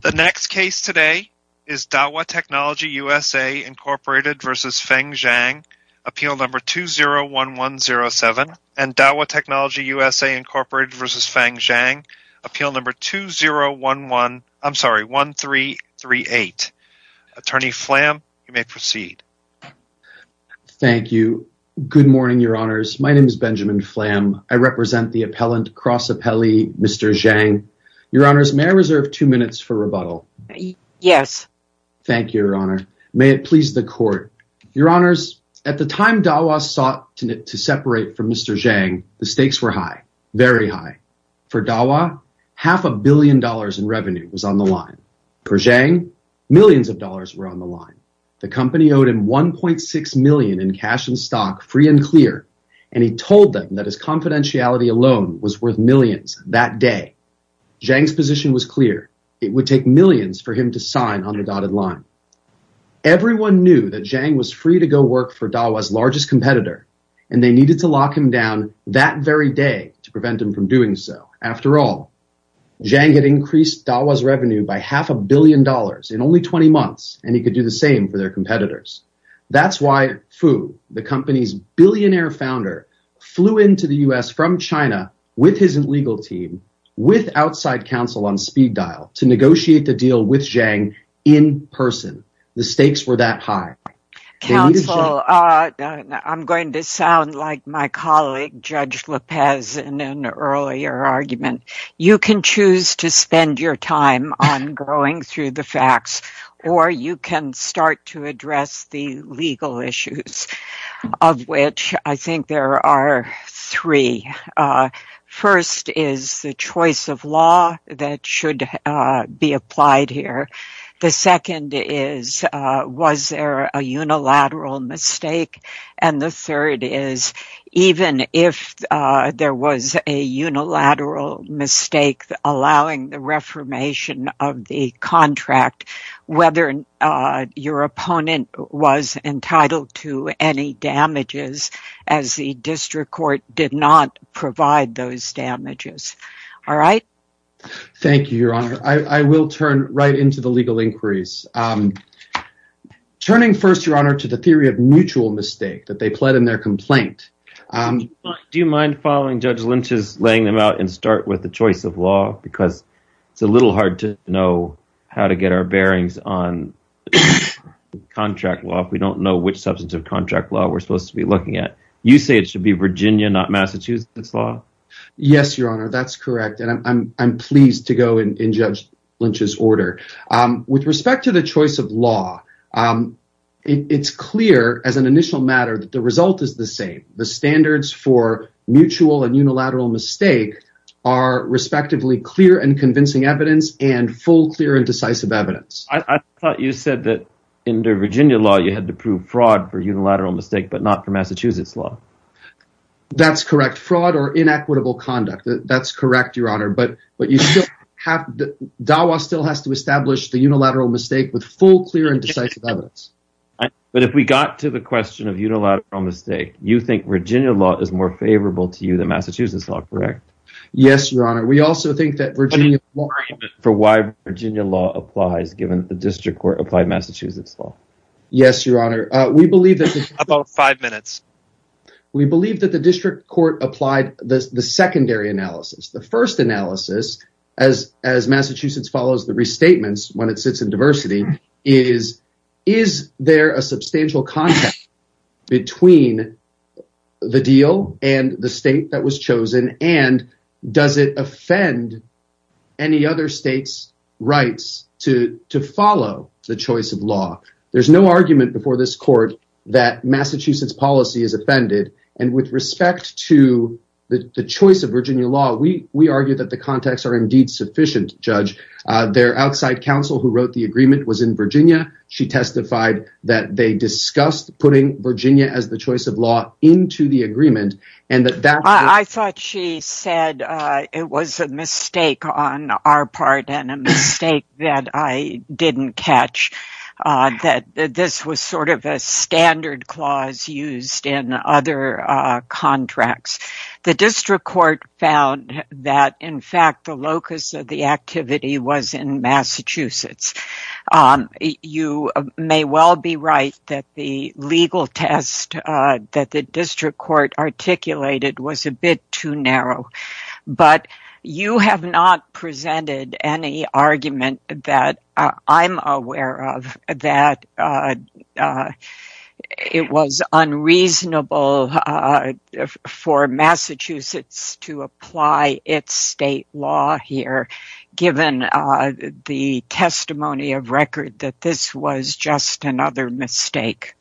The next case today is Dahua Technology USA, Inc. v. Feng Zhang, Appeal No. 201107. And Dahua Technology USA, Inc. v. Feng Zhang, Appeal No. 20138. Attorney Flam, you may proceed. Thank you. Good morning, Your Honors. My name is Benjamin Flam. I represent the appellant, Cross Appellee, Mr. Zhang. Your Honors, may I reserve two minutes for rebuttal? Yes. Thank you, Your Honor. May it please the Court. Your Honors, at the time Dahua sought to separate from Mr. Zhang, the stakes were high, very high. For Dahua, half a billion dollars in revenue was on the line. For Zhang, millions of dollars were on the line. The company owed him $1.6 million in cash and stock, free and clear. And he told them that his confidentiality alone was worth millions that day. Zhang's position was clear. It would take millions for him to sign on the dotted line. Everyone knew that Zhang was free to go work for Dahua's largest competitor, and they needed to lock him down that very day to prevent him from doing so. After all, Zhang had increased Dahua's revenue by half a billion dollars in only 20 months, and he could do the same for their competitors. That's why Fu, the company's billionaire founder, flew into the U.S. from China with his legal team, with outside counsel on speed dial, to negotiate the deal with Zhang in person. The stakes were that high. Counsel, I'm going to sound like my colleague, Judge Lopez, in an earlier argument. You can choose to spend your time on going through the facts, or you can start to address the legal issues, of which I think there are three. First is the choice of law that should be applied here. The second is, was there a unilateral mistake? And the third is, even if there was a unilateral mistake allowing the reformation of the contract, whether your opponent was entitled to any damages, as the district court did not provide those damages. All right? Thank you, Your Honor. I will turn right into the legal inquiries. Turning first, Your Honor, to the theory of mutual mistake that they pled in their complaint. Do you mind following Judge Lynch's laying them out and start with the choice of law? Because it's a little hard to know how to get our bearings on contract law. We don't know which substantive contract law we're supposed to be looking at. You say it should be Virginia, not Massachusetts law. Yes, Your Honor. That's correct. And I'm pleased to go in Judge Lynch's order. With respect to the choice of law, it's clear as an initial matter that the result is the same. The standards for mutual and unilateral mistake are respectively clear and convincing evidence and full, clear, and decisive evidence. I thought you said that in the Virginia law you had to prove fraud for unilateral mistake, but not for Massachusetts law. That's correct. Fraud or inequitable conduct. That's correct, Your Honor. DAWA still has to establish the unilateral mistake with full, clear, and decisive evidence. But if we got to the question of unilateral mistake, you think Virginia law is more favorable to you than Massachusetts law, correct? Yes, Your Honor. We also think that Virginia law applies given the district court applied Massachusetts law. Yes, Your Honor. About five minutes. We believe that the district court applied the secondary analysis. The first analysis, as Massachusetts follows the restatements when it sits in diversity, is, is there a substantial contact between the deal and the state that was chosen? And does it offend any other state's rights to follow the choice of law? There's no argument before this court that Massachusetts policy is offended. And with respect to the choice of Virginia law, we we argue that the contacts are indeed sufficient, Judge. Their outside counsel who wrote the agreement was in Virginia. She testified that they discussed putting Virginia as the choice of law into the agreement and that that. I thought she said it was a mistake on our part and a mistake that I didn't catch. That this was sort of a standard clause used in other contracts. The district court found that, in fact, the locus of the activity was in Massachusetts. You may well be right that the legal test that the district court articulated was a bit too narrow. But you have not presented any argument that I'm aware of that it was unreasonable for Massachusetts to apply its state law here, given the testimony of record that this was just another mistake.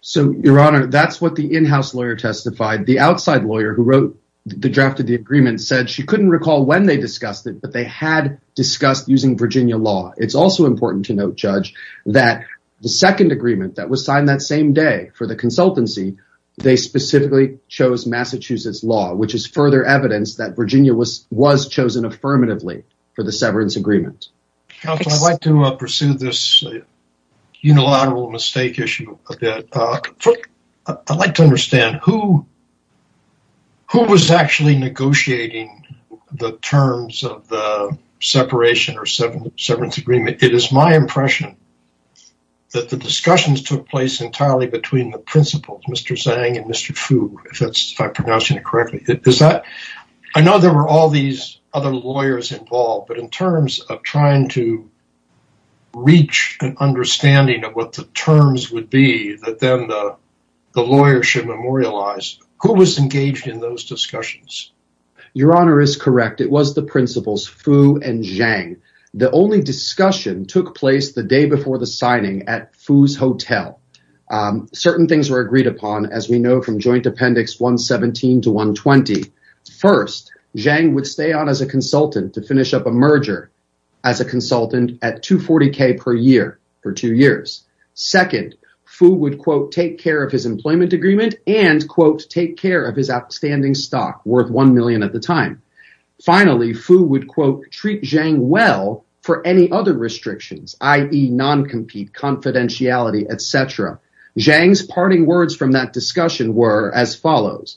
So, Your Honor, that's what the in-house lawyer testified. The outside lawyer who wrote the draft of the agreement said she couldn't recall when they discussed it, but they had discussed using Virginia law. It's also important to note, Judge, that the second agreement that was signed that same day for the consultancy, they specifically chose Massachusetts law, which is further evidence that Virginia was was chosen affirmatively for the severance agreement. I'd like to pursue this unilateral mistake issue. I'd like to understand who was actually negotiating the terms of the separation or severance agreement. It is my impression that the discussions took place entirely between the principals, Mr. Zhang and Mr. Fu, if I'm pronouncing it correctly. I know there were all these other lawyers involved, but in terms of trying to reach an understanding of what the terms would be, that then the lawyer should memorialize, who was engaged in those discussions? Your Honor is correct. It was the principals, Fu and Zhang. The only discussion took place the day before the signing at Fu's hotel. Certain things were agreed upon, as we know, from Joint Appendix 117 to 120. First, Zhang would stay on as a consultant to finish up a merger as a consultant at 240 K per year for two years. Second, Fu would, quote, take care of his employment agreement and, quote, take care of his outstanding stock worth one million at the time. Finally, Fu would, quote, treat Zhang well for any other restrictions, i.e. non-compete confidentiality, etc. Zhang's parting words from that discussion were as follows.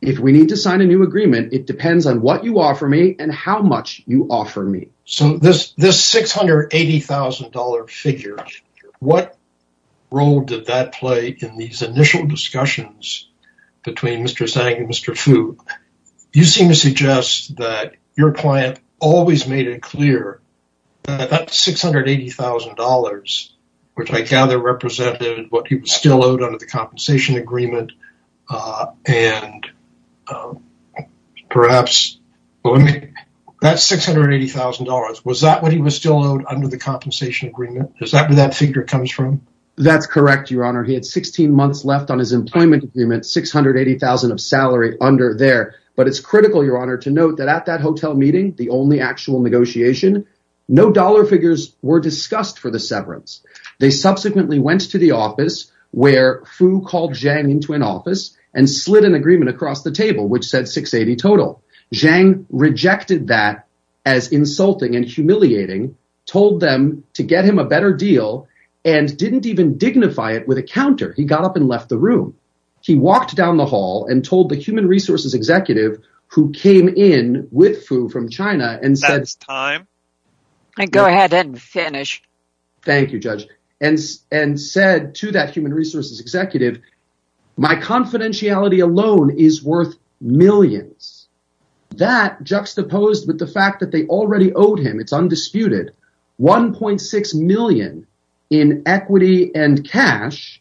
If we need to sign a new agreement, it depends on what you offer me and how much you offer me. So this $680,000 figure, what role did that play in these initial discussions between Mr. Zhang and Mr. Fu? You seem to suggest that your client always made it clear that $680,000, which I gather represented what he was still owed under the compensation agreement. And perhaps that $680,000, was that what he was still owed under the compensation agreement? Is that where that figure comes from? That's correct, Your Honor. He had 16 months left on his employment agreement, $680,000 of salary under there. But it's critical, Your Honor, to note that at that hotel meeting, the only actual negotiation, no dollar figures were discussed for the severance. They subsequently went to the office where Fu called Zhang into an office and slid an agreement across the table, which said $680,000 total. Zhang rejected that as insulting and humiliating, told them to get him a better deal, and didn't even dignify it with a counter. He got up and left the room. He walked down the hall and told the human resources executive who came in with Fu from China and said— That's time. Go ahead and finish. Thank you, Judge, and said to that human resources executive, my confidentiality alone is worth millions. That juxtaposed with the fact that they already owed him, it's undisputed, $1.6 million in equity and cash.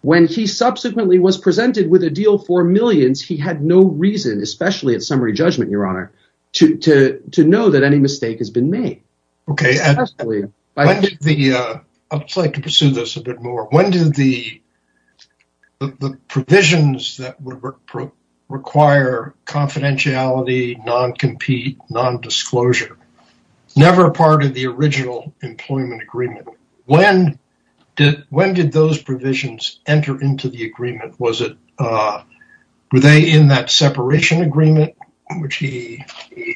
When he subsequently was presented with a deal for millions, he had no reason, especially at summary judgment, Your Honor, to know that any mistake has been made. Okay. I'd like to pursue this a bit more. When did the provisions that require confidentiality, non-compete, non-disclosure, never part of the original employment agreement, when did those provisions enter into the agreement? Were they in that separation agreement, which he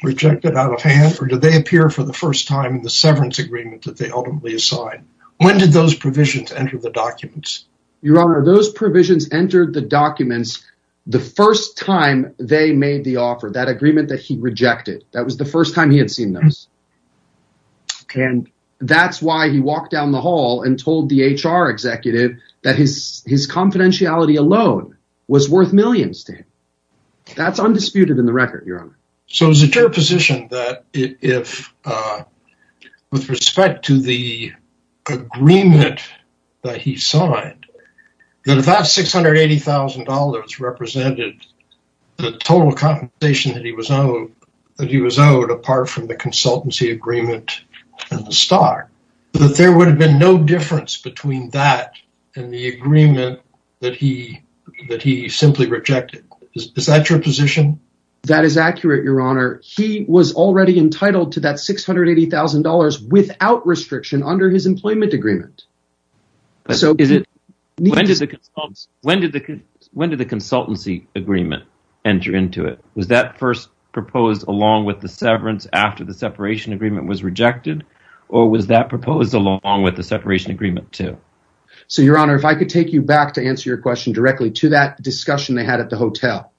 rejected out of hand, or did they appear for the first time in the severance agreement that they ultimately assigned? When did those provisions enter the documents? Your Honor, those provisions entered the documents the first time they made the offer, that agreement that he rejected. That was the first time he had seen those. That's why he walked down the hall and told the HR executive that his confidentiality alone was worth millions to him. That's undisputed in the record, Your Honor. So is it your position that with respect to the agreement that he signed, that if that $680,000 represented the total compensation that he was owed, apart from the consultancy agreement and the stock, that there would have been no difference between that and the agreement that he simply rejected? Is that your position? That is accurate, Your Honor. He was already entitled to that $680,000 without restriction under his employment agreement. When did the consultancy agreement enter into it? Was that first proposed along with the severance after the separation agreement was rejected, or was that proposed along with the separation agreement too? So, Your Honor, if I could take you back to answer your question directly to that discussion they had at the hotel.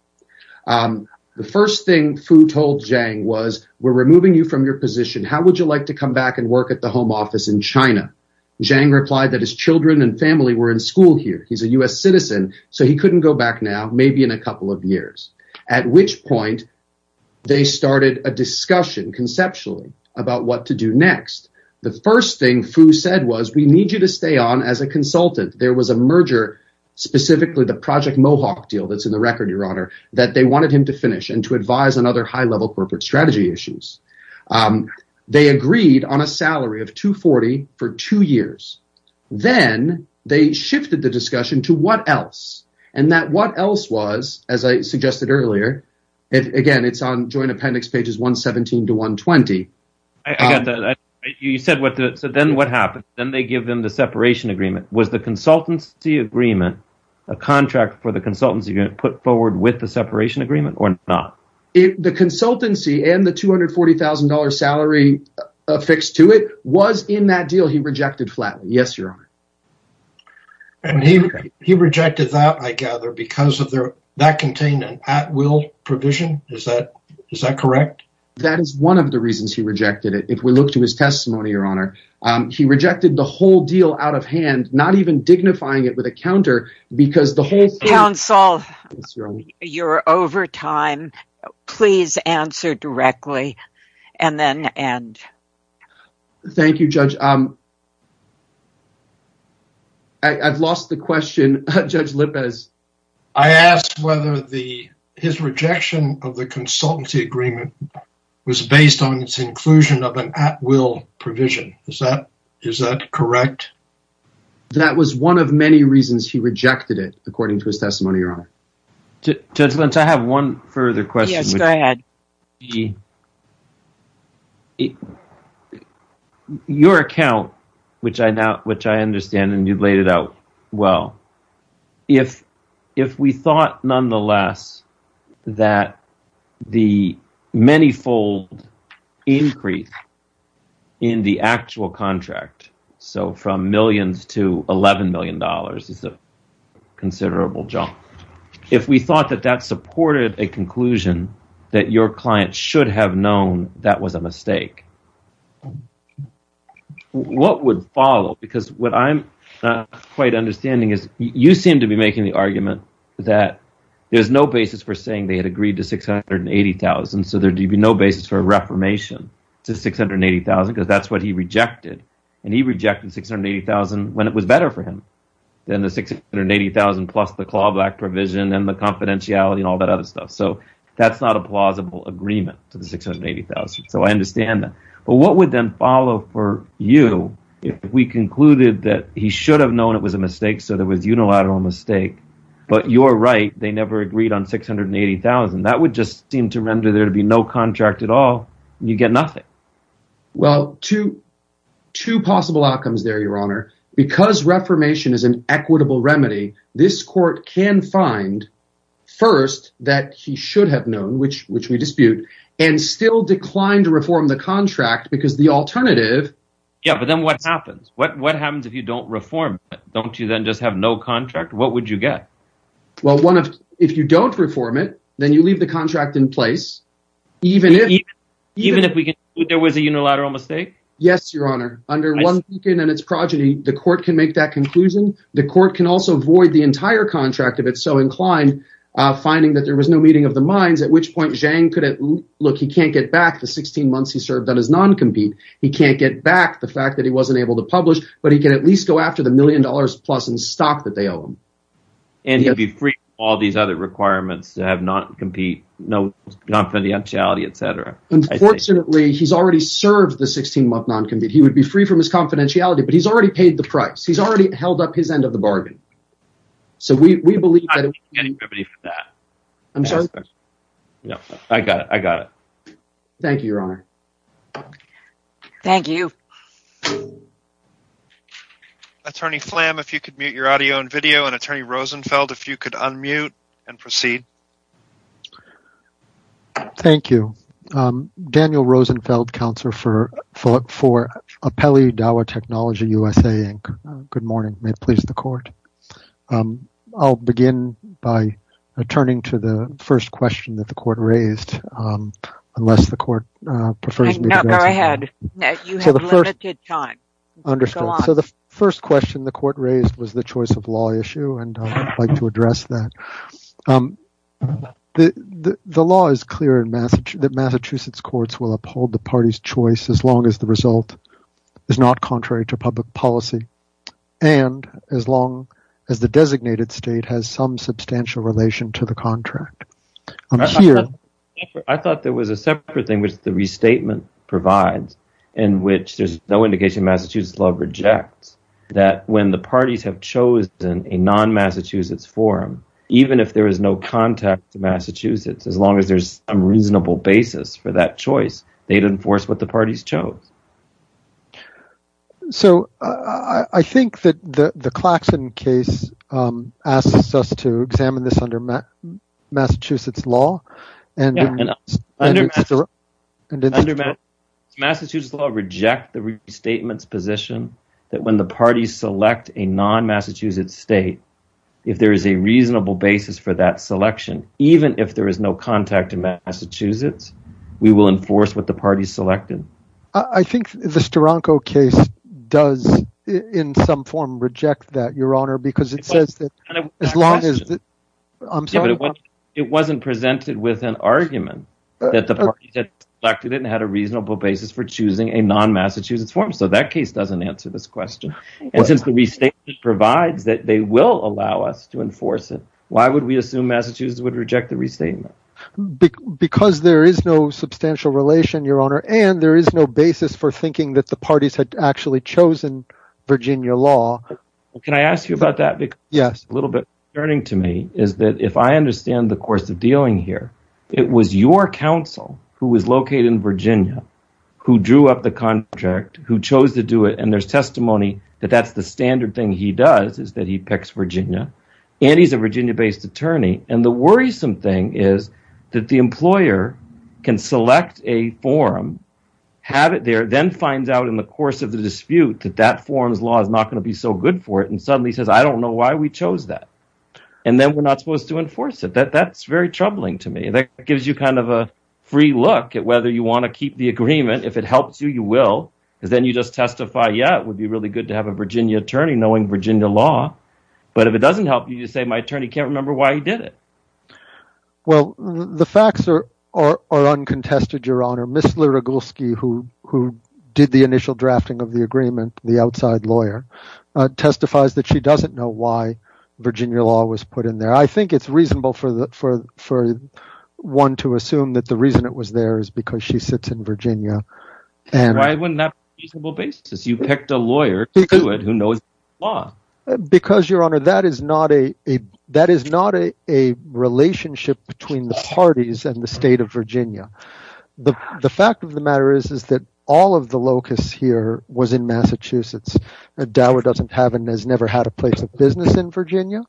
The first thing Fu told Zhang was, ìWe're removing you from your position. How would you like to come back and work at the home office in China?î Zhang replied that his children and family were in school here. He's a U.S. citizen, so he couldn't go back now, maybe in a couple of years, at which point they started a discussion conceptually about what to do next. The first thing Fu said was, ìWe need you to stay on as a consultant.î There was a merger, specifically the Project Mohawk deal that's in the record, Your Honor, that they wanted him to finish and to advise on other high-level corporate strategy issues. They agreed on a salary of $240,000 for two years. Then they shifted the discussion to what else, and that what else was, as I suggested earlier, again, it's on joint appendix pages 117 to 120. You said, ìThen what happened?î Then they give them the separation agreement. Was the consultancy agreement, a contract for the consultancy agreement, put forward with the separation agreement or not? The consultancy and the $240,000 salary affixed to it was in that deal he rejected flatly, yes, Your Honor. He rejected that, I gather, because that contained an at-will provision. Is that correct? That is one of the reasons he rejected it. If we look to his testimony, Your Honor, he rejected the whole deal out of hand, not even dignifying it with a counter because the whole thingó Leon Saul, you're over time. Please answer directly and then end. Thank you, Judge. I've lost the question. I asked whether his rejection of the consultancy agreement was based on its inclusion of an at-will provision. Is that correct? That was one of many reasons he rejected it, according to his testimony, Your Honor. Judge Lynch, I have one further question. Yes, go ahead. Your account, which I understand and you've laid it out well, if we thought, nonetheless, that the manifold increase in the actual contractó if we thought that that supported a conclusion that your client should have known that was a mistake, what would follow? What I'm not quite understanding is you seem to be making the argument that there's no basis for saying they had agreed to $680,000, so there would be no basis for a reformation to $680,000 because that's what he rejected. He rejected $680,000 when it was better for him than the $680,000 plus the clawback provision and the confidentiality and all that other stuff. That's not a plausible agreement to the $680,000, so I understand that. But what would then follow for you if we concluded that he should have known it was a mistake, so there was unilateral mistake, but you're right, they never agreed on $680,000? That would just seem to render there to be no contract at all, and you get nothing. Well, two possible outcomes there, Your Honor. Because reformation is an equitable remedy, this court can find, first, that he should have known, which we dispute, and still decline to reform the contract because the alternativeó Yeah, but then what happens? What happens if you don't reform it? Don't you then just have no contract? What would you get? Well, if you don't reform it, then you leave the contract in place, even ifó Even if we conclude there was a unilateral mistake? Yes, Your Honor. Under one beacon and its progeny, the court can make that conclusion. The court can also void the entire contract if it's so inclined, finding that there was no meeting of the minds, at which point Zhang could haveólook, he can't get back the 16 months he served on his non-compete. He can't get back the fact that he wasn't able to publish, but he can at least go after the $1 million-plus in stock that they owe him. And he'd be free from all these other requirements to have non-compete, confidentiality, etc. Unfortunately, he's already served the 16-month non-compete. He would be free from his confidentiality, but he's already paid the price. He's already held up his end of the bargain. So we believe tható I'm not seeking any remedy for that. I'm sorry? No, I got it. I got it. Thank you, Your Honor. Thank you. Attorney Flam, if you could mute your audio and video, and Attorney Rosenfeld, if you could unmute and proceed. Thank you. Daniel Rosenfeld, Counselor for Apelli Dawa Technology USA, Inc. Good morning. May it please the court. I'll begin by turning to the first question that the court raised, unless the court prefers meó No, go ahead. You have limited time. Understood. So the first question the court raised was the choice of law issue, and I'd like to address that. The law is clear that Massachusetts courts will uphold the party's choice as long as the result is not contrary to public policy and as long as the designated state has some substantial relation to the contract. I thought there was a separate thing, which the restatement provides, in which there's no indication Massachusetts law rejects that when the parties have chosen a non-Massachusetts forum, even if there is no contact to Massachusetts, as long as there's a reasonable basis for that choice, they'd enforce what the parties chose. So I think that the Claxton case asks us to examine this under Massachusetts lawó Massachusetts law rejects the restatement's position that when the parties select a non-Massachusetts state, if there is a reasonable basis for that selection, even if there is no contact to Massachusetts, we will enforce what the parties selected. I think the Steranko case does in some form reject that, Your Honor, because it says that as long asó It wasn't presented with an argument that the parties had selected it and had a reasonable basis for choosing a non-Massachusetts forum, so that case doesn't answer this question. And since the restatement provides that they will allow us to enforce it, why would we assume Massachusetts would reject the restatement? Because there is no substantial relation, Your Honor, and there is no basis for thinking that the parties had actually chosen Virginia law. Can I ask you about that? Yes. A little bit concerning to me is that if I understand the course of dealing here, it was your counsel who was located in Virginia who drew up the contract, who chose to do it, and there's testimony that that's the standard thing he does, is that he picks Virginia, and he's a Virginia-based attorney, and the worrisome thing is that the employer can select a forum, have it there, then finds out in the course of the dispute that that forum's law is not going to be so good for it, and suddenly says, I don't know why we chose that, and then we're not supposed to enforce it. That's very troubling to me. That gives you kind of a free look at whether you want to keep the agreement. If it helps you, you will, because then you just testify, yeah, it would be really good to have a Virginia attorney knowing Virginia law, but if it doesn't help you, you say my attorney can't remember why he did it. Well, the facts are uncontested, Your Honor. Ms. Lurigulski, who did the initial drafting of the agreement, the outside lawyer, testifies that she doesn't know why Virginia law was put in there. I think it's reasonable for one to assume that the reason it was there is because she sits in Virginia. Why wouldn't that be a reasonable basis? You picked a lawyer to do it who knows Virginia law. Because, Your Honor, that is not a relationship between the parties and the state of Virginia. The fact of the matter is that all of the locus here was in Massachusetts. Dower doesn't have and has never had a place of business in Virginia.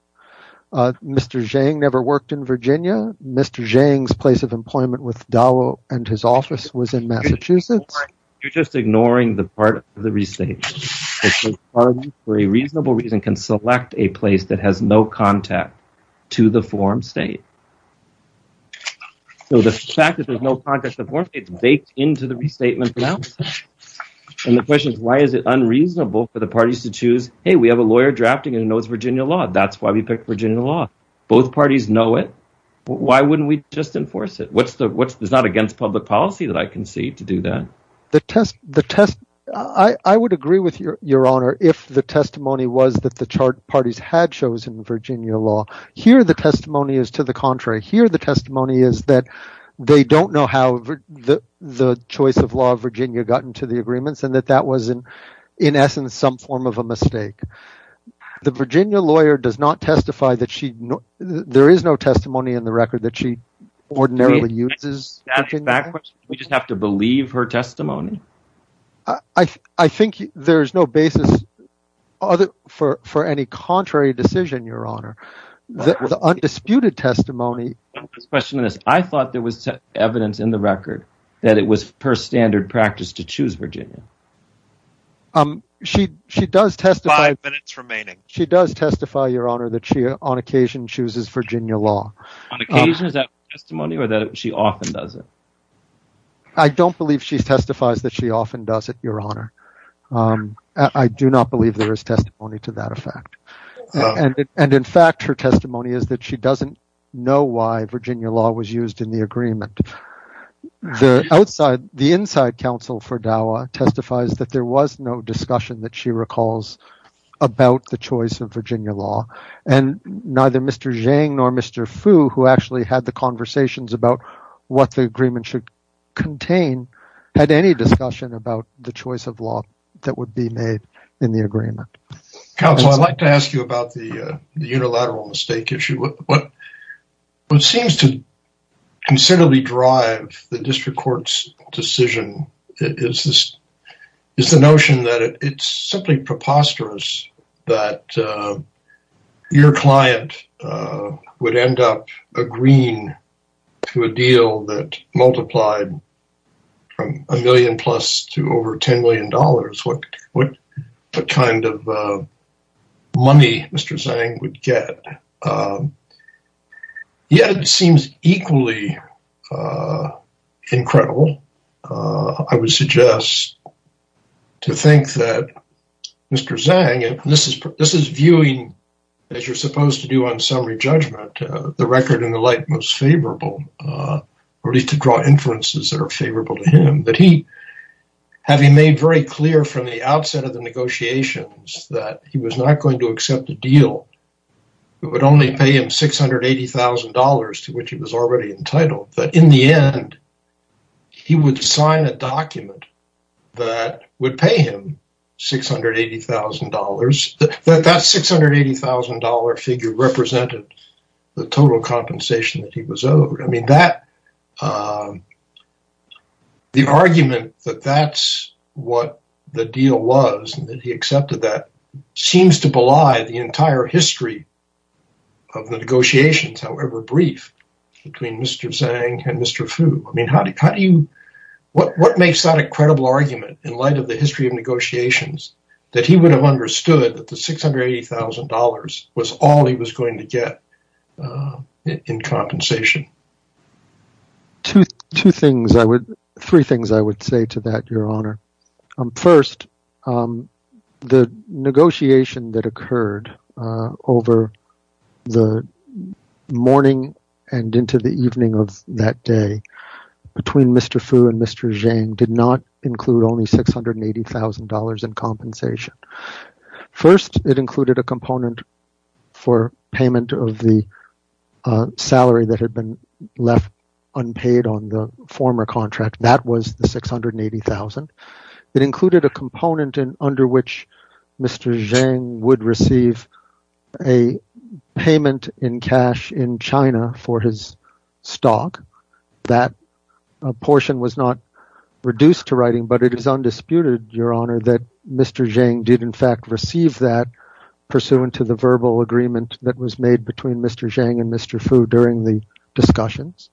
Mr. Zhang never worked in Virginia. Mr. Zhang's place of employment with Dower and his office was in Massachusetts. You're just ignoring the part of the restatement. The parties, for a reasonable reason, can select a place that has no contact to the form state. So the fact that there's no contact to the form state is baked into the restatement. And the question is why is it unreasonable for the parties to choose, hey, we have a lawyer drafting who knows Virginia law. That's why we picked Virginia law. Both parties know it. Why wouldn't we just enforce it? It's not against public policy that I concede to do that. I would agree with Your Honor if the testimony was that the chart parties had chosen Virginia law. Here, the testimony is to the contrary. Here, the testimony is that they don't know how the choice of law of Virginia got into the agreements and that that was, in essence, some form of a mistake. The Virginia lawyer does not testify that there is no testimony in the record that she ordinarily uses. Do we just have to believe her testimony? I think there is no basis for any contrary decision, Your Honor. The undisputed testimony. I thought there was evidence in the record that it was per standard practice to choose Virginia. Five minutes remaining. She does testify, Your Honor, that she on occasion chooses Virginia law. On occasion? Is that her testimony or that she often does it? I don't believe she testifies that she often does it, Your Honor. I do not believe there is testimony to that effect. And in fact, her testimony is that she doesn't know why Virginia law was used in the agreement. The inside counsel for DAWA testifies that there was no discussion that she recalls about the choice of Virginia law. And neither Mr. Zhang nor Mr. Fu, who actually had the conversations about what the agreement should contain, had any discussion about the choice of law that would be made in the agreement. Counsel, I'd like to ask you about the unilateral mistake issue. What seems to considerably drive the district court's decision is the notion that it's simply preposterous that your client would end up agreeing to a deal that multiplied from a million plus to over $10 million. What kind of money Mr. Zhang would get? Yet it seems equally incredible, I would suggest, to think that Mr. Zhang, and this is viewing, as you're supposed to do on summary judgment, the record in the light most favorable, or at least to draw inferences that are favorable to him, that he, having made very clear from the outset of the negotiations that he was not going to accept a deal that would only pay him $680,000, to which he was already entitled, that in the end, he would sign a document that would pay him $680,000. That $680,000 figure represented the total compensation that he was owed. The argument that that's what the deal was and that he accepted that seems to belie the entire history of the negotiations, however brief, between Mr. Zhang and Mr. Fu. What makes that a credible argument in light of the history of negotiations that he would have understood that the $680,000 was all he was going to get in compensation? Two things, three things I would say to that, Your Honor. First, the negotiation that occurred over the morning and into the evening of that day between Mr. Fu and Mr. Zhang did not include only $680,000 in compensation. First, it included a component for payment of the salary that had been left unpaid on the former contract. That was the $680,000. It included a component under which Mr. Zhang would receive a payment in cash in China for his stock. That portion was not reduced to writing, but it is undisputed, Your Honor, that Mr. Zhang did in fact receive that pursuant to the verbal agreement that was made between Mr. Zhang and Mr. Fu during the discussions.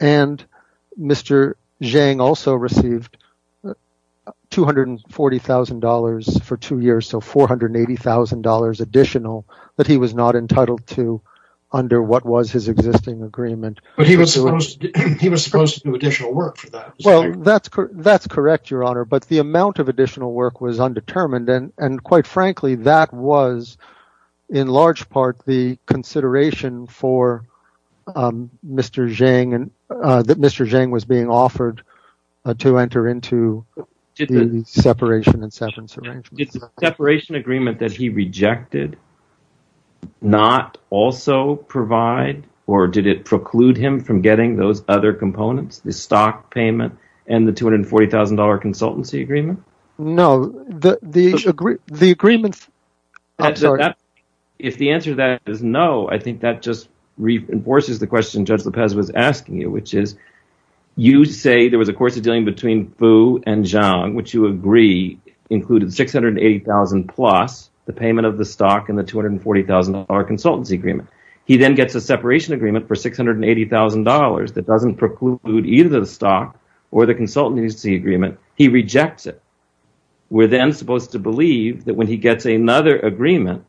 Mr. Zhang also received $240,000 for two years, so $480,000 additional that he was not entitled to under what was his existing agreement. But he was supposed to do additional work for that. Well, that's correct, Your Honor, but the amount of additional work was undetermined. And quite frankly, that was in large part the consideration that Mr. Zhang was being offered to enter into the separation and severance arrangement. Did the separation agreement that he rejected not also provide or did it preclude him from getting those other components, the stock payment and the $240,000 consultancy agreement? No. If the answer to that is no, I think that just reinforces the question Judge López was asking you, which is you say there was a course of dealing between Fu and Zhang, which you agree included $680,000 plus the payment of the stock and the $240,000 consultancy agreement. He then gets a separation agreement for $680,000 that doesn't preclude either the stock or the consultancy agreement. He rejects it. We're then supposed to believe that when he gets another agreement,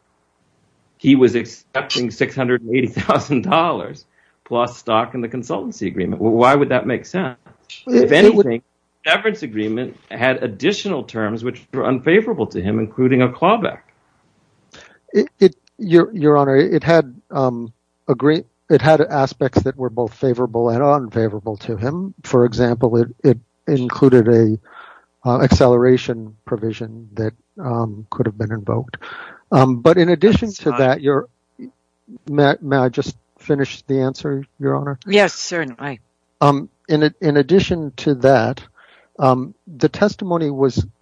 he was accepting $680,000 plus stock and the consultancy agreement. Why would that make sense? If anything, the severance agreement had additional terms which were unfavorable to him, including a clawback. Your Honor, it had aspects that were both favorable and unfavorable to him. For example, it included an acceleration provision that could have been invoked. May I just finish the answer, Your Honor? Yes, certainly. In addition to that, the testimony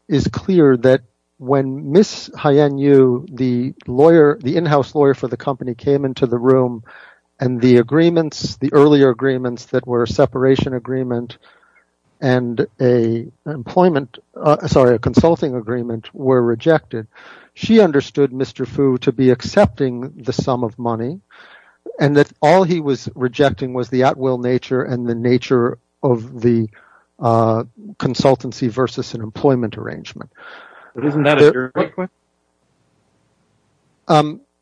is clear that when Ms. Haiyan Yu, the in-house lawyer for the company, came into the room and the earlier agreements that were a separation agreement and a consulting agreement were rejected, she understood Mr. Fu to be accepting the sum of money and that all he was rejecting was the at-will nature and the nature of the consultancy versus an employment arrangement. Isn't that a jury question?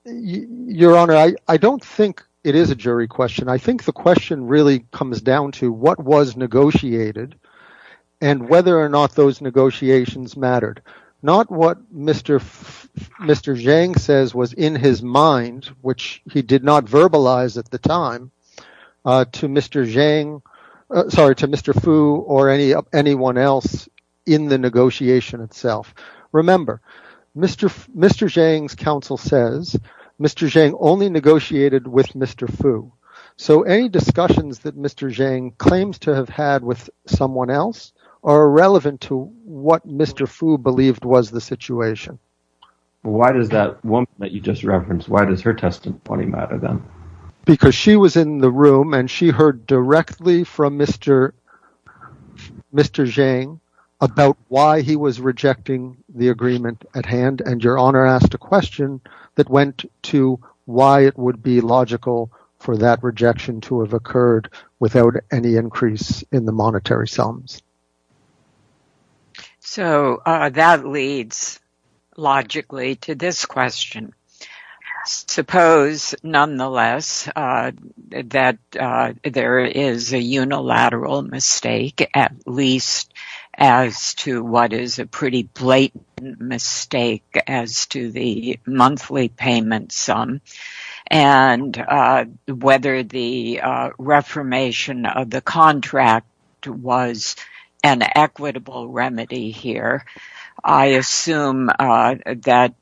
Your Honor, I don't think it is a jury question. I think the question really comes down to what was negotiated and whether or not those negotiations mattered. Not what Mr. Zhang says was in his mind, which he did not verbalize at the time to Mr. Fu or anyone else in the negotiation itself. Remember, Mr. Zhang's counsel says Mr. Zhang only negotiated with Mr. Fu. So, any discussions that Mr. Zhang claims to have had with someone else are irrelevant to what Mr. Fu believed was the situation. Why does that woman that you just referenced, why does her testimony matter then? Because she was in the room and she heard directly from Mr. Zhang about why he was rejecting the agreement at hand and Your Honor asked a question that went to why it would be logical for that rejection to have occurred without any increase in the monetary sums. So, that leads logically to this question. Suppose, nonetheless, that there is a unilateral mistake, at least as to what is a pretty blatant mistake as to the monthly payment sum and whether the reformation of the contract was an equitable remedy here. I assume that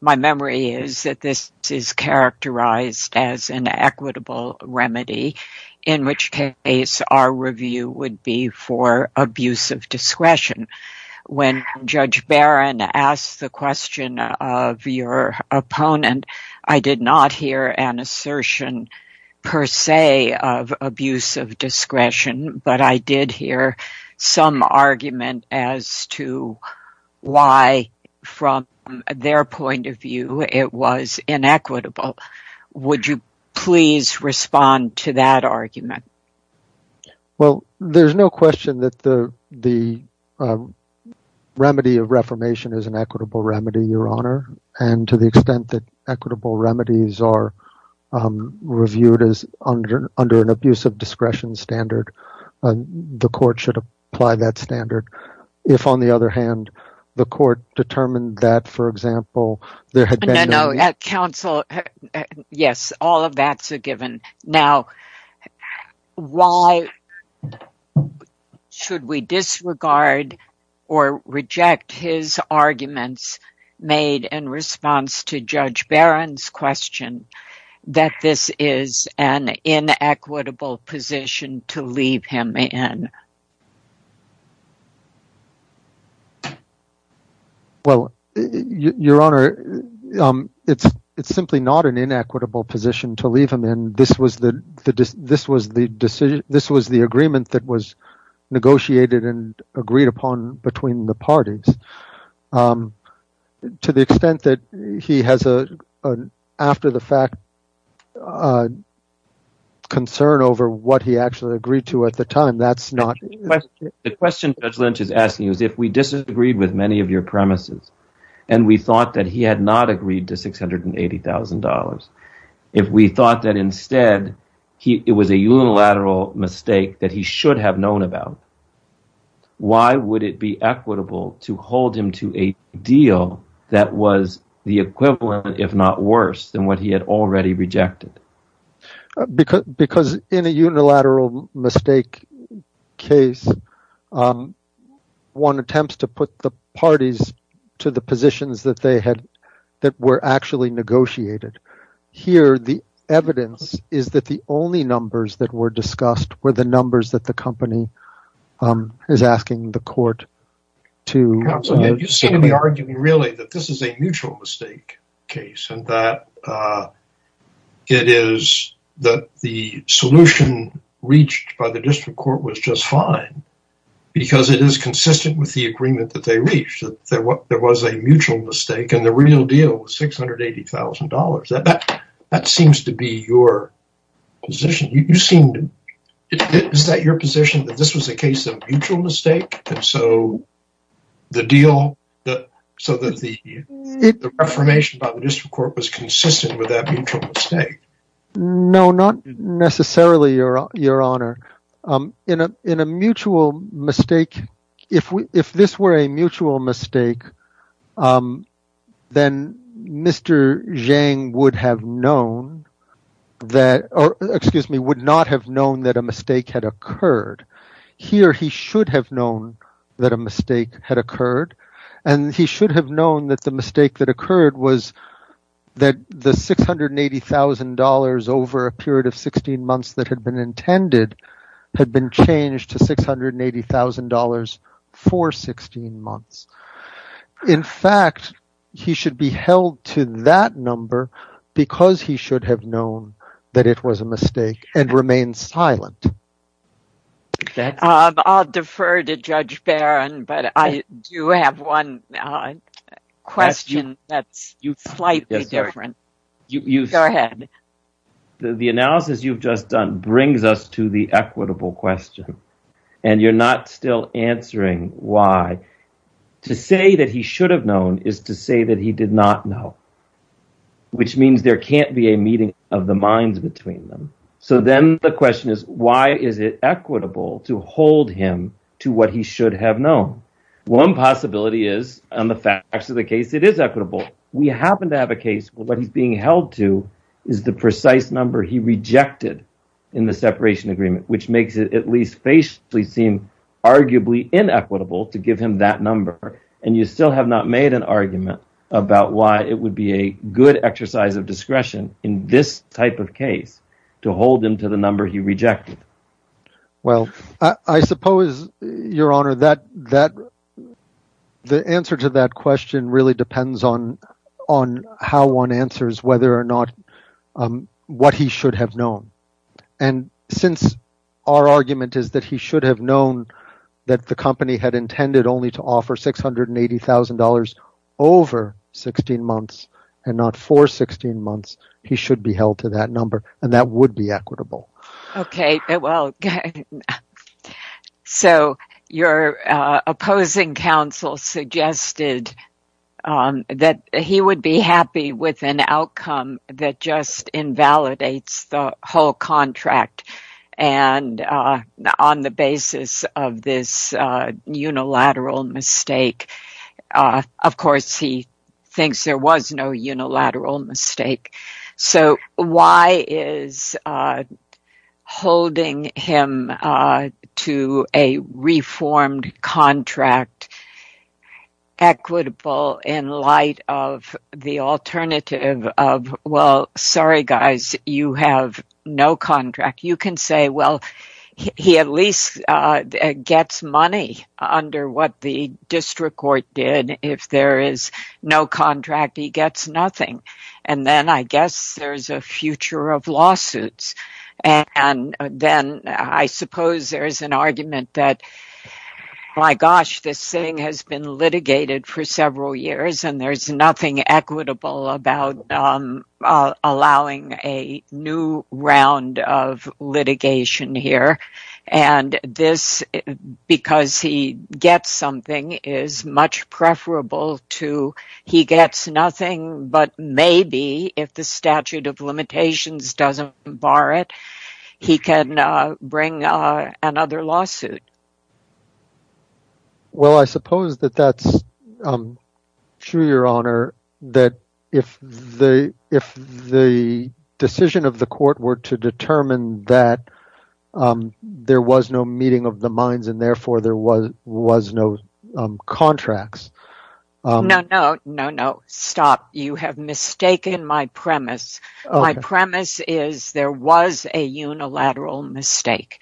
my memory is that this is characterized as an equitable remedy, in which case our review would be for abuse of discretion. When Judge Barron asked the question of your opponent, I did not hear an assertion per se of abuse of discretion, but I did hear some argument as to why, from their point of view, it was inequitable. Would you please respond to that argument? Well, there's no question that the remedy of reformation is an equitable remedy, Your Honor. And to the extent that equitable remedies are reviewed under an abuse of discretion standard, the court should apply that standard. If, on the other hand, the court determined that, for example, there had been… No, no, at counsel, yes, all of that's a given. Now, why should we disregard or reject his arguments made in response to Judge Barron's question that this is an inequitable position to leave him in? Well, Your Honor, it's simply not an inequitable position to leave him in. This was the agreement that was negotiated and agreed upon between the parties. To the extent that he has, after the fact, concern over what he actually agreed to at the time, that's not… The question Judge Lynch is asking is if we disagreed with many of your premises and we thought that he had not agreed to $680,000, if we thought that instead it was a unilateral mistake that he should have known about, why would it be equitable to hold him to a deal that was the equivalent, if not worse, than what he had already rejected? Because in a unilateral mistake case, one attempts to put the parties to the positions that were actually negotiated. Here, the evidence is that the only numbers that were discussed were the numbers that the company is asking the court to… Counsel, you seem to be arguing really that this is a mutual mistake case and that it is that the solution reached by the district court was just fine because it is consistent with the agreement that they reached. There was a mutual mistake and the real deal was $680,000. That seems to be your position. Is that your position that this was a case of mutual mistake? So, the deal… So that the affirmation by the district court was consistent with that mutual mistake? No, not necessarily, Your Honor. In a mutual mistake, if this were a mutual mistake, then Mr. Zhang would not have known that a mistake had occurred. Here, he should have known that a mistake had occurred. He should have known that the mistake that occurred was that the $680,000 over a period of 16 months that had been intended had been changed to $680,000 for 16 months. In fact, he should be held to that number because he should have known that it was a mistake and remained silent. I'll defer to Judge Barron, but I do have one question that's slightly different. Go ahead. The analysis you've just done brings us to the equitable question, and you're not still answering why. To say that he should have known is to say that he did not know, which means there can't be a meeting of the minds between them. So then the question is, why is it equitable to hold him to what he should have known? One possibility is, on the facts of the case, it is equitable. We happen to have a case where what he's being held to is the precise number he rejected in the separation agreement, which makes it at least facially seem arguably inequitable to give him that number. You still have not made an argument about why it would be a good exercise of discretion in this type of case to hold him to the number he rejected. I suppose, Your Honor, the answer to that question really depends on how one answers whether or not what he should have known. Since our argument is that he should have known that the company had intended only to offer $680,000 over 16 months and not for 16 months, he should be held to that number, and that would be equitable. Your opposing counsel suggested that he would be happy with an outcome that just invalidates the whole contract on the basis of this unilateral mistake. Of course, he thinks there was no unilateral mistake. So why is holding him to a reformed contract equitable in light of the alternative of, well, sorry, guys, you have no contract? You can say, well, he at least gets money under what the district court did. If there is no contract, he gets nothing. Then, I guess, there is a future of lawsuits. I suppose there is an argument that, my gosh, this thing has been litigated for several years, and there is nothing equitable about allowing a new round of litigation here. This, because he gets something, is much preferable to he gets nothing, but maybe if the statute of limitations doesn't bar it, he can bring another lawsuit. Well, I suppose that that's true, Your Honor, that if the decision of the court were to determine that there was no meeting of the minds, and therefore there was no contracts. No, no, no, no, stop. You have mistaken my premise. My premise is there was a unilateral mistake.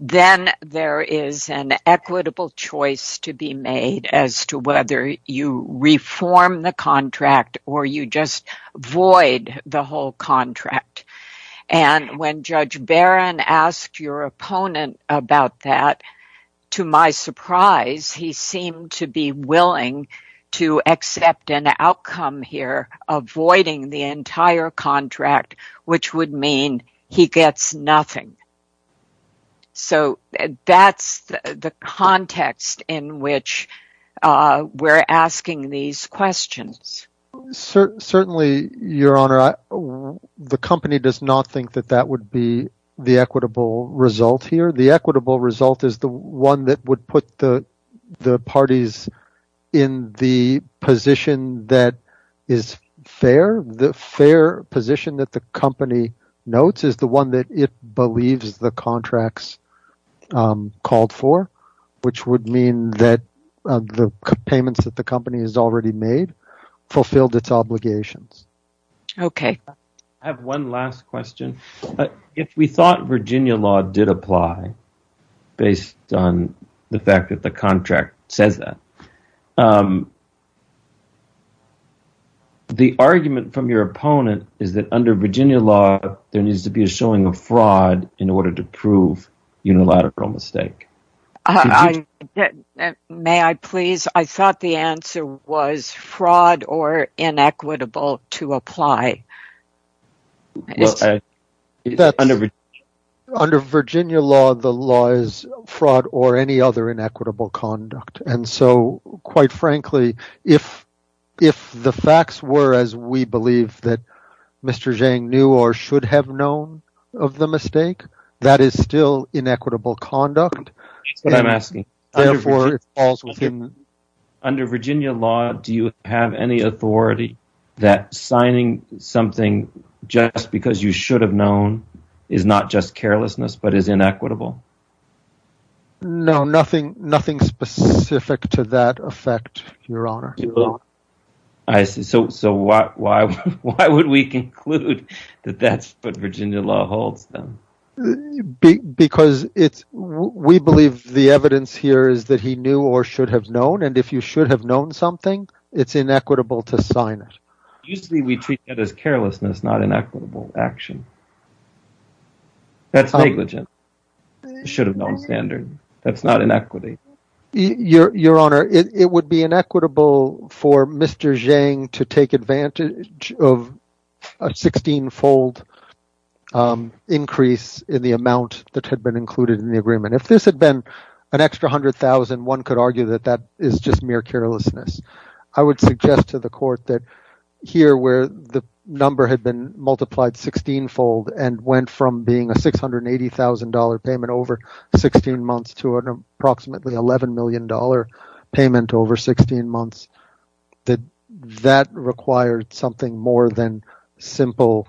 Then there is an equitable choice to be made as to whether you reform the contract or you just void the whole contract. And when Judge Barron asked your opponent about that, to my surprise, he seemed to be willing to accept an outcome here, avoiding the entire contract, which would mean he gets nothing. So, that's the context in which we're asking these questions. Certainly, Your Honor, the company does not think that that would be the equitable result here. The equitable result is the one that would put the parties in the position that is fair. The fair position that the company notes is the one that it believes the contracts called for, which would mean that the payments that the company has already made fulfilled its obligations. Okay. I have one last question. If we thought Virginia law did apply based on the fact that the contract says that, the argument from your opponent is that under Virginia law, there needs to be a showing of fraud in order to prove unilateral mistake. May I please? I thought the answer was fraud or inequitable to apply. Under Virginia law, the law is fraud or any other inequitable conduct. And so, quite frankly, if the facts were as we believe that Mr. Zhang knew or should have known of the mistake, that is still inequitable conduct. That's what I'm asking. Under Virginia law, do you have any authority that signing something just because you should have known is not just carelessness but is inequitable? No, nothing specific to that effect, Your Honor. So, why would we conclude that that's what Virginia law holds then? Because we believe the evidence here is that he knew or should have known. And if you should have known something, it's inequitable to sign it. Usually, we treat that as carelessness, not inequitable action. That's negligence. You should have known standard. That's not inequity. Your Honor, it would be inequitable for Mr. Zhang to take advantage of a 16-fold increase in the amount that had been included in the agreement. If this had been an extra $100,000, one could argue that that is just mere carelessness. I would suggest to the Court that here where the number had been multiplied 16-fold and went from being a $680,000 payment over 16 months to an approximately $11 million payment over 16 months, that that required something more than simple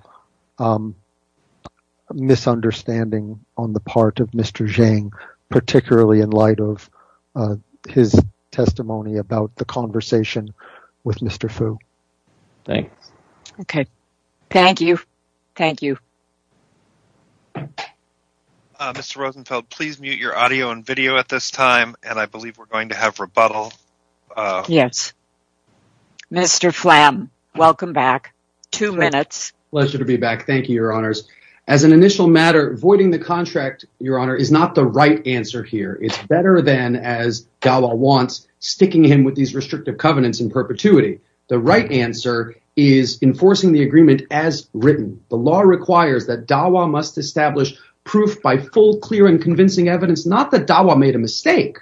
misunderstanding on the part of Mr. Zhang, particularly in light of his testimony about the conversation with Mr. Fu. Thanks. Okay. Thank you. Thank you. Mr. Rosenfeld, please mute your audio and video at this time, and I believe we're going to have rebuttal. Yes. Mr. Phlam, welcome back. Two minutes. Pleasure to be back. Thank you, Your Honors. As an initial matter, voiding the contract, Your Honor, is not the right answer here. It's better than, as Dawah wants, sticking him with these restrictive covenants in perpetuity. The right answer is enforcing the agreement as written. The law requires that Dawah must establish proof by full, clear, and convincing evidence, not that Dawah made a mistake,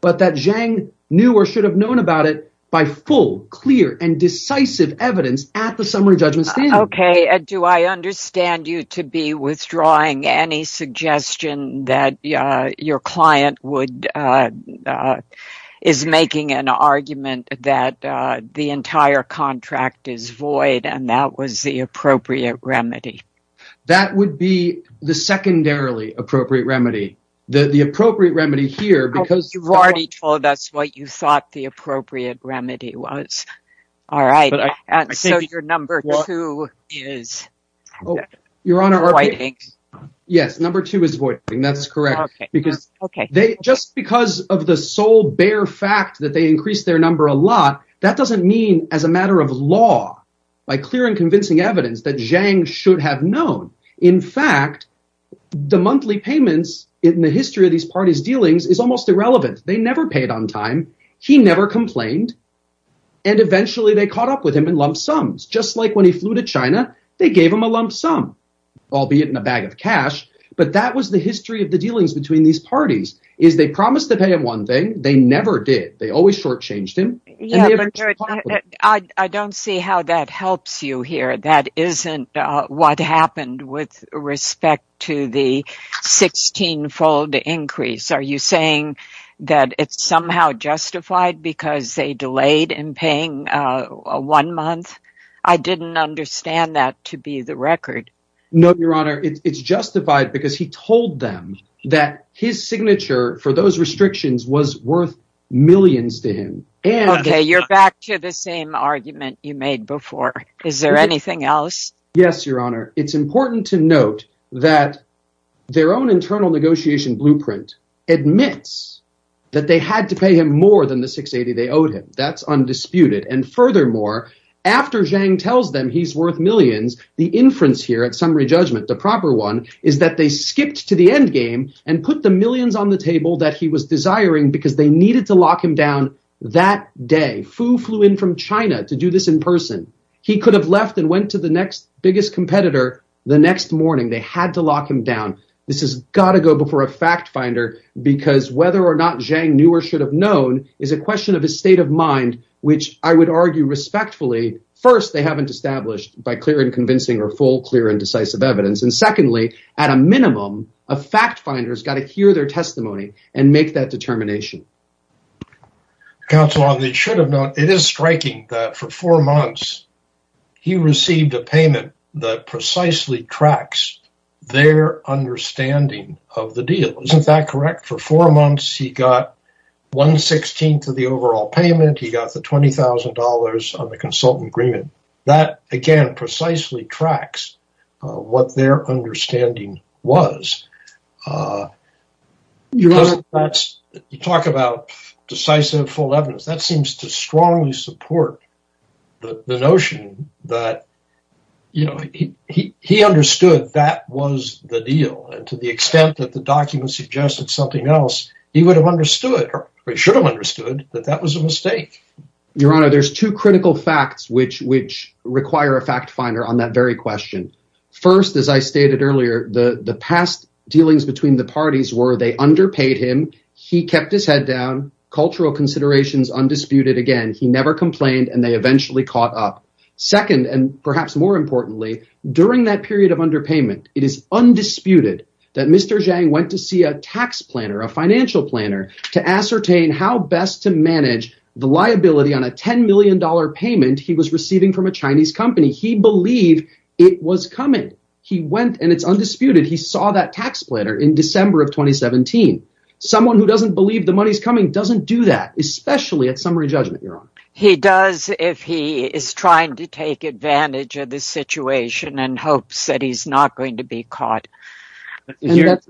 but that Zhang knew or should have known about it by full, clear, and decisive evidence at the summary judgment standing. Okay. Do I understand you to be withdrawing any suggestion that your client is making an argument that the entire contract is void and that was the appropriate remedy? That would be the secondarily appropriate remedy. The appropriate remedy here, because… You've already told us what you thought the appropriate remedy was. All right. So your number two is voiding? Yes. Number two is voiding. That's correct. Okay. Just because of the sole bare fact that they increased their number a lot, that doesn't mean as a matter of law, by clear and convincing evidence, that Zhang should have known. In fact, the monthly payments in the history of these parties' dealings is almost irrelevant. They never paid on time. He never complained, and eventually they caught up with him in lump sums, just like when he flew to China, they gave him a lump sum, albeit in a bag of cash, but that was the history of the dealings between these parties, is they promised to pay him one thing. They never did. They always shortchanged him. I don't see how that helps you here. That isn't what happened with respect to the 16-fold increase. Are you saying that it's somehow justified because they delayed in paying one month? I didn't understand that to be the record. No, Your Honor. It's justified because he told them that his signature for those restrictions was worth millions to him. Okay. You're back to the same argument you made before. Is there anything else? Yes, Your Honor. It's important to note that their own internal negotiation blueprint admits that they had to pay him more than the 680 they owed him. That's undisputed. And furthermore, after Zhang tells them he's worth millions, the inference here at summary judgment, the proper one, is that they skipped to the endgame and put the millions on the table that he was desiring because they needed to lock him down that day. Fu flew in from China to do this in person. He could have left and went to the next biggest competitor the next morning. They had to lock him down. This has got to go before a fact finder because whether or not Zhang knew or should have known is a question of his state of mind, which I would argue respectfully. First, they haven't established by clear and convincing or full, clear and decisive evidence. And secondly, at a minimum, a fact finder has got to hear their testimony and make that determination. Counsel, they should have known. It is striking that for four months, he received a payment that precisely tracks their understanding of the deal. Isn't that correct? For four months, he got one sixteenth of the overall payment. He got the $20,000 on the consultant agreement. That, again, precisely tracks what their understanding was. You talk about decisive, full evidence. That seems to strongly support the notion that, you know, he understood that was the deal. And to the extent that the documents suggested something else, he would have understood or should have understood that that was a mistake. Your Honor, there's two critical facts which which require a fact finder on that very question. First, as I stated earlier, the past dealings between the parties were they underpaid him. He kept his head down. Cultural considerations undisputed. Again, he never complained and they eventually caught up. Second, and perhaps more importantly, during that period of underpayment, it is undisputed that Mr. Zhang went to see a tax planner, a financial planner to ascertain how best to manage the liability on a $10 million payment he was receiving from a Chinese company. He believed it was coming. He went and it's undisputed. He saw that tax planner in December of 2017. Someone who doesn't believe the money is coming doesn't do that, especially at summary judgment. Your Honor, he does. If he is trying to take advantage of the situation and hopes that he's not going to be caught here.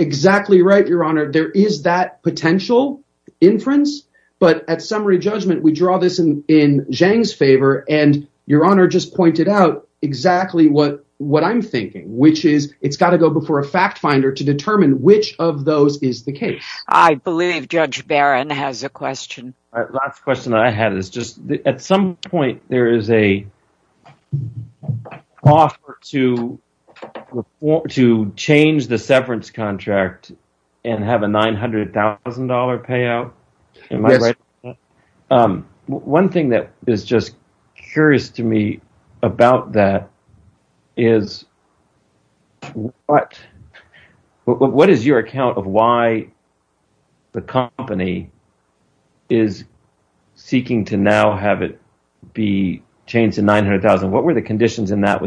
Exactly right. Your Honor, there is that potential inference. But at summary judgment, we draw this in Zhang's favor. And Your Honor just pointed out exactly what I'm thinking, which is it's got to go before a fact finder to determine which of those is the case. I believe Judge Barron has a question. Last question I had is just at some point there is a offer to change the severance contract and have a $900,000 payout. One thing that is just curious to me about that is what is your account of why the company is seeking to now have it be changed to $900,000? What were the conditions in that?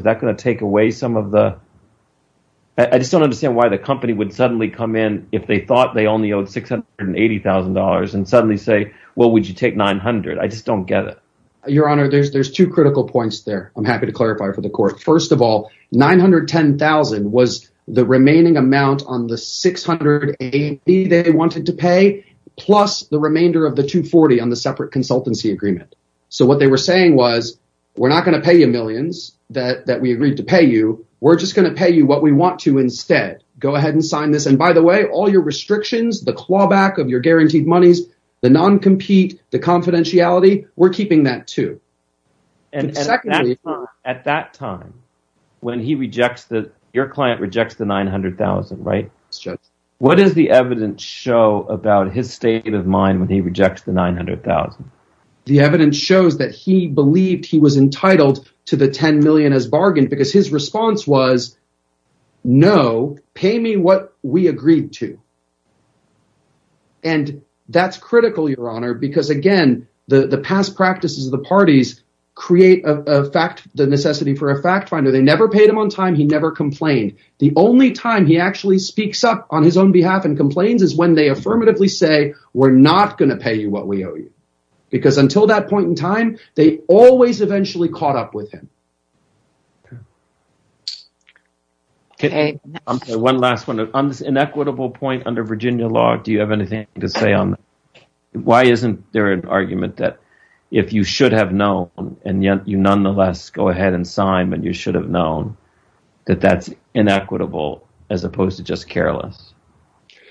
I just don't understand why the company would suddenly come in if they thought they only owed $680,000 and suddenly say, well, would you take $900,000? I just don't get it. Your Honor, there's two critical points there. I'm happy to clarify for the court. First of all, $910,000 was the remaining amount on the $680,000 they wanted to pay plus the remainder of the $240,000 on the separate consultancy agreement. So what they were saying was we're not going to pay you millions that we agreed to pay you. We're just going to pay you what we want to instead. Go ahead and sign this. And by the way, all your restrictions, the clawback of your guaranteed monies, the non-compete, the confidentiality, we're keeping that too. At that time when he rejects – your client rejects the $900,000, right? That's right. What does the evidence show about his state of mind when he rejects the $900,000? The evidence shows that he believed he was entitled to the $10 million as bargain because his response was no, pay me what we agreed to. And that's critical, Your Honor, because, again, the past practices of the parties create the necessity for a fact finder. They never paid him on time. He never complained. The only time he actually speaks up on his own behalf and complains is when they affirmatively say we're not going to pay you what we owe you because until that point in time, they always eventually caught up with him. One last one. On this inequitable point under Virginia law, do you have anything to say on that? Why isn't there an argument that if you should have known and yet you nonetheless go ahead and sign and you should have known that that's inequitable as opposed to just careless?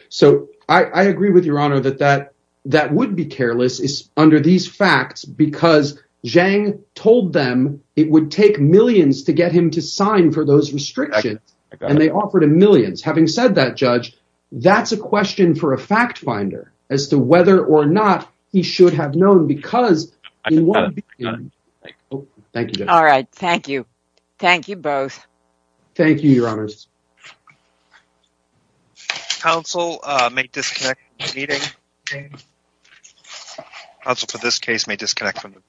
So I agree with Your Honor that that that would be careless is under these facts because Zhang told them it would take millions to get him to sign for those restrictions. And they offered him millions. Having said that, Judge, that's a question for a fact finder as to whether or not he should have known. Because thank you. All right. Thank you. Thank you both. Thank you, Your Honors. Council may disconnect meeting. Also, for this case may disconnect from.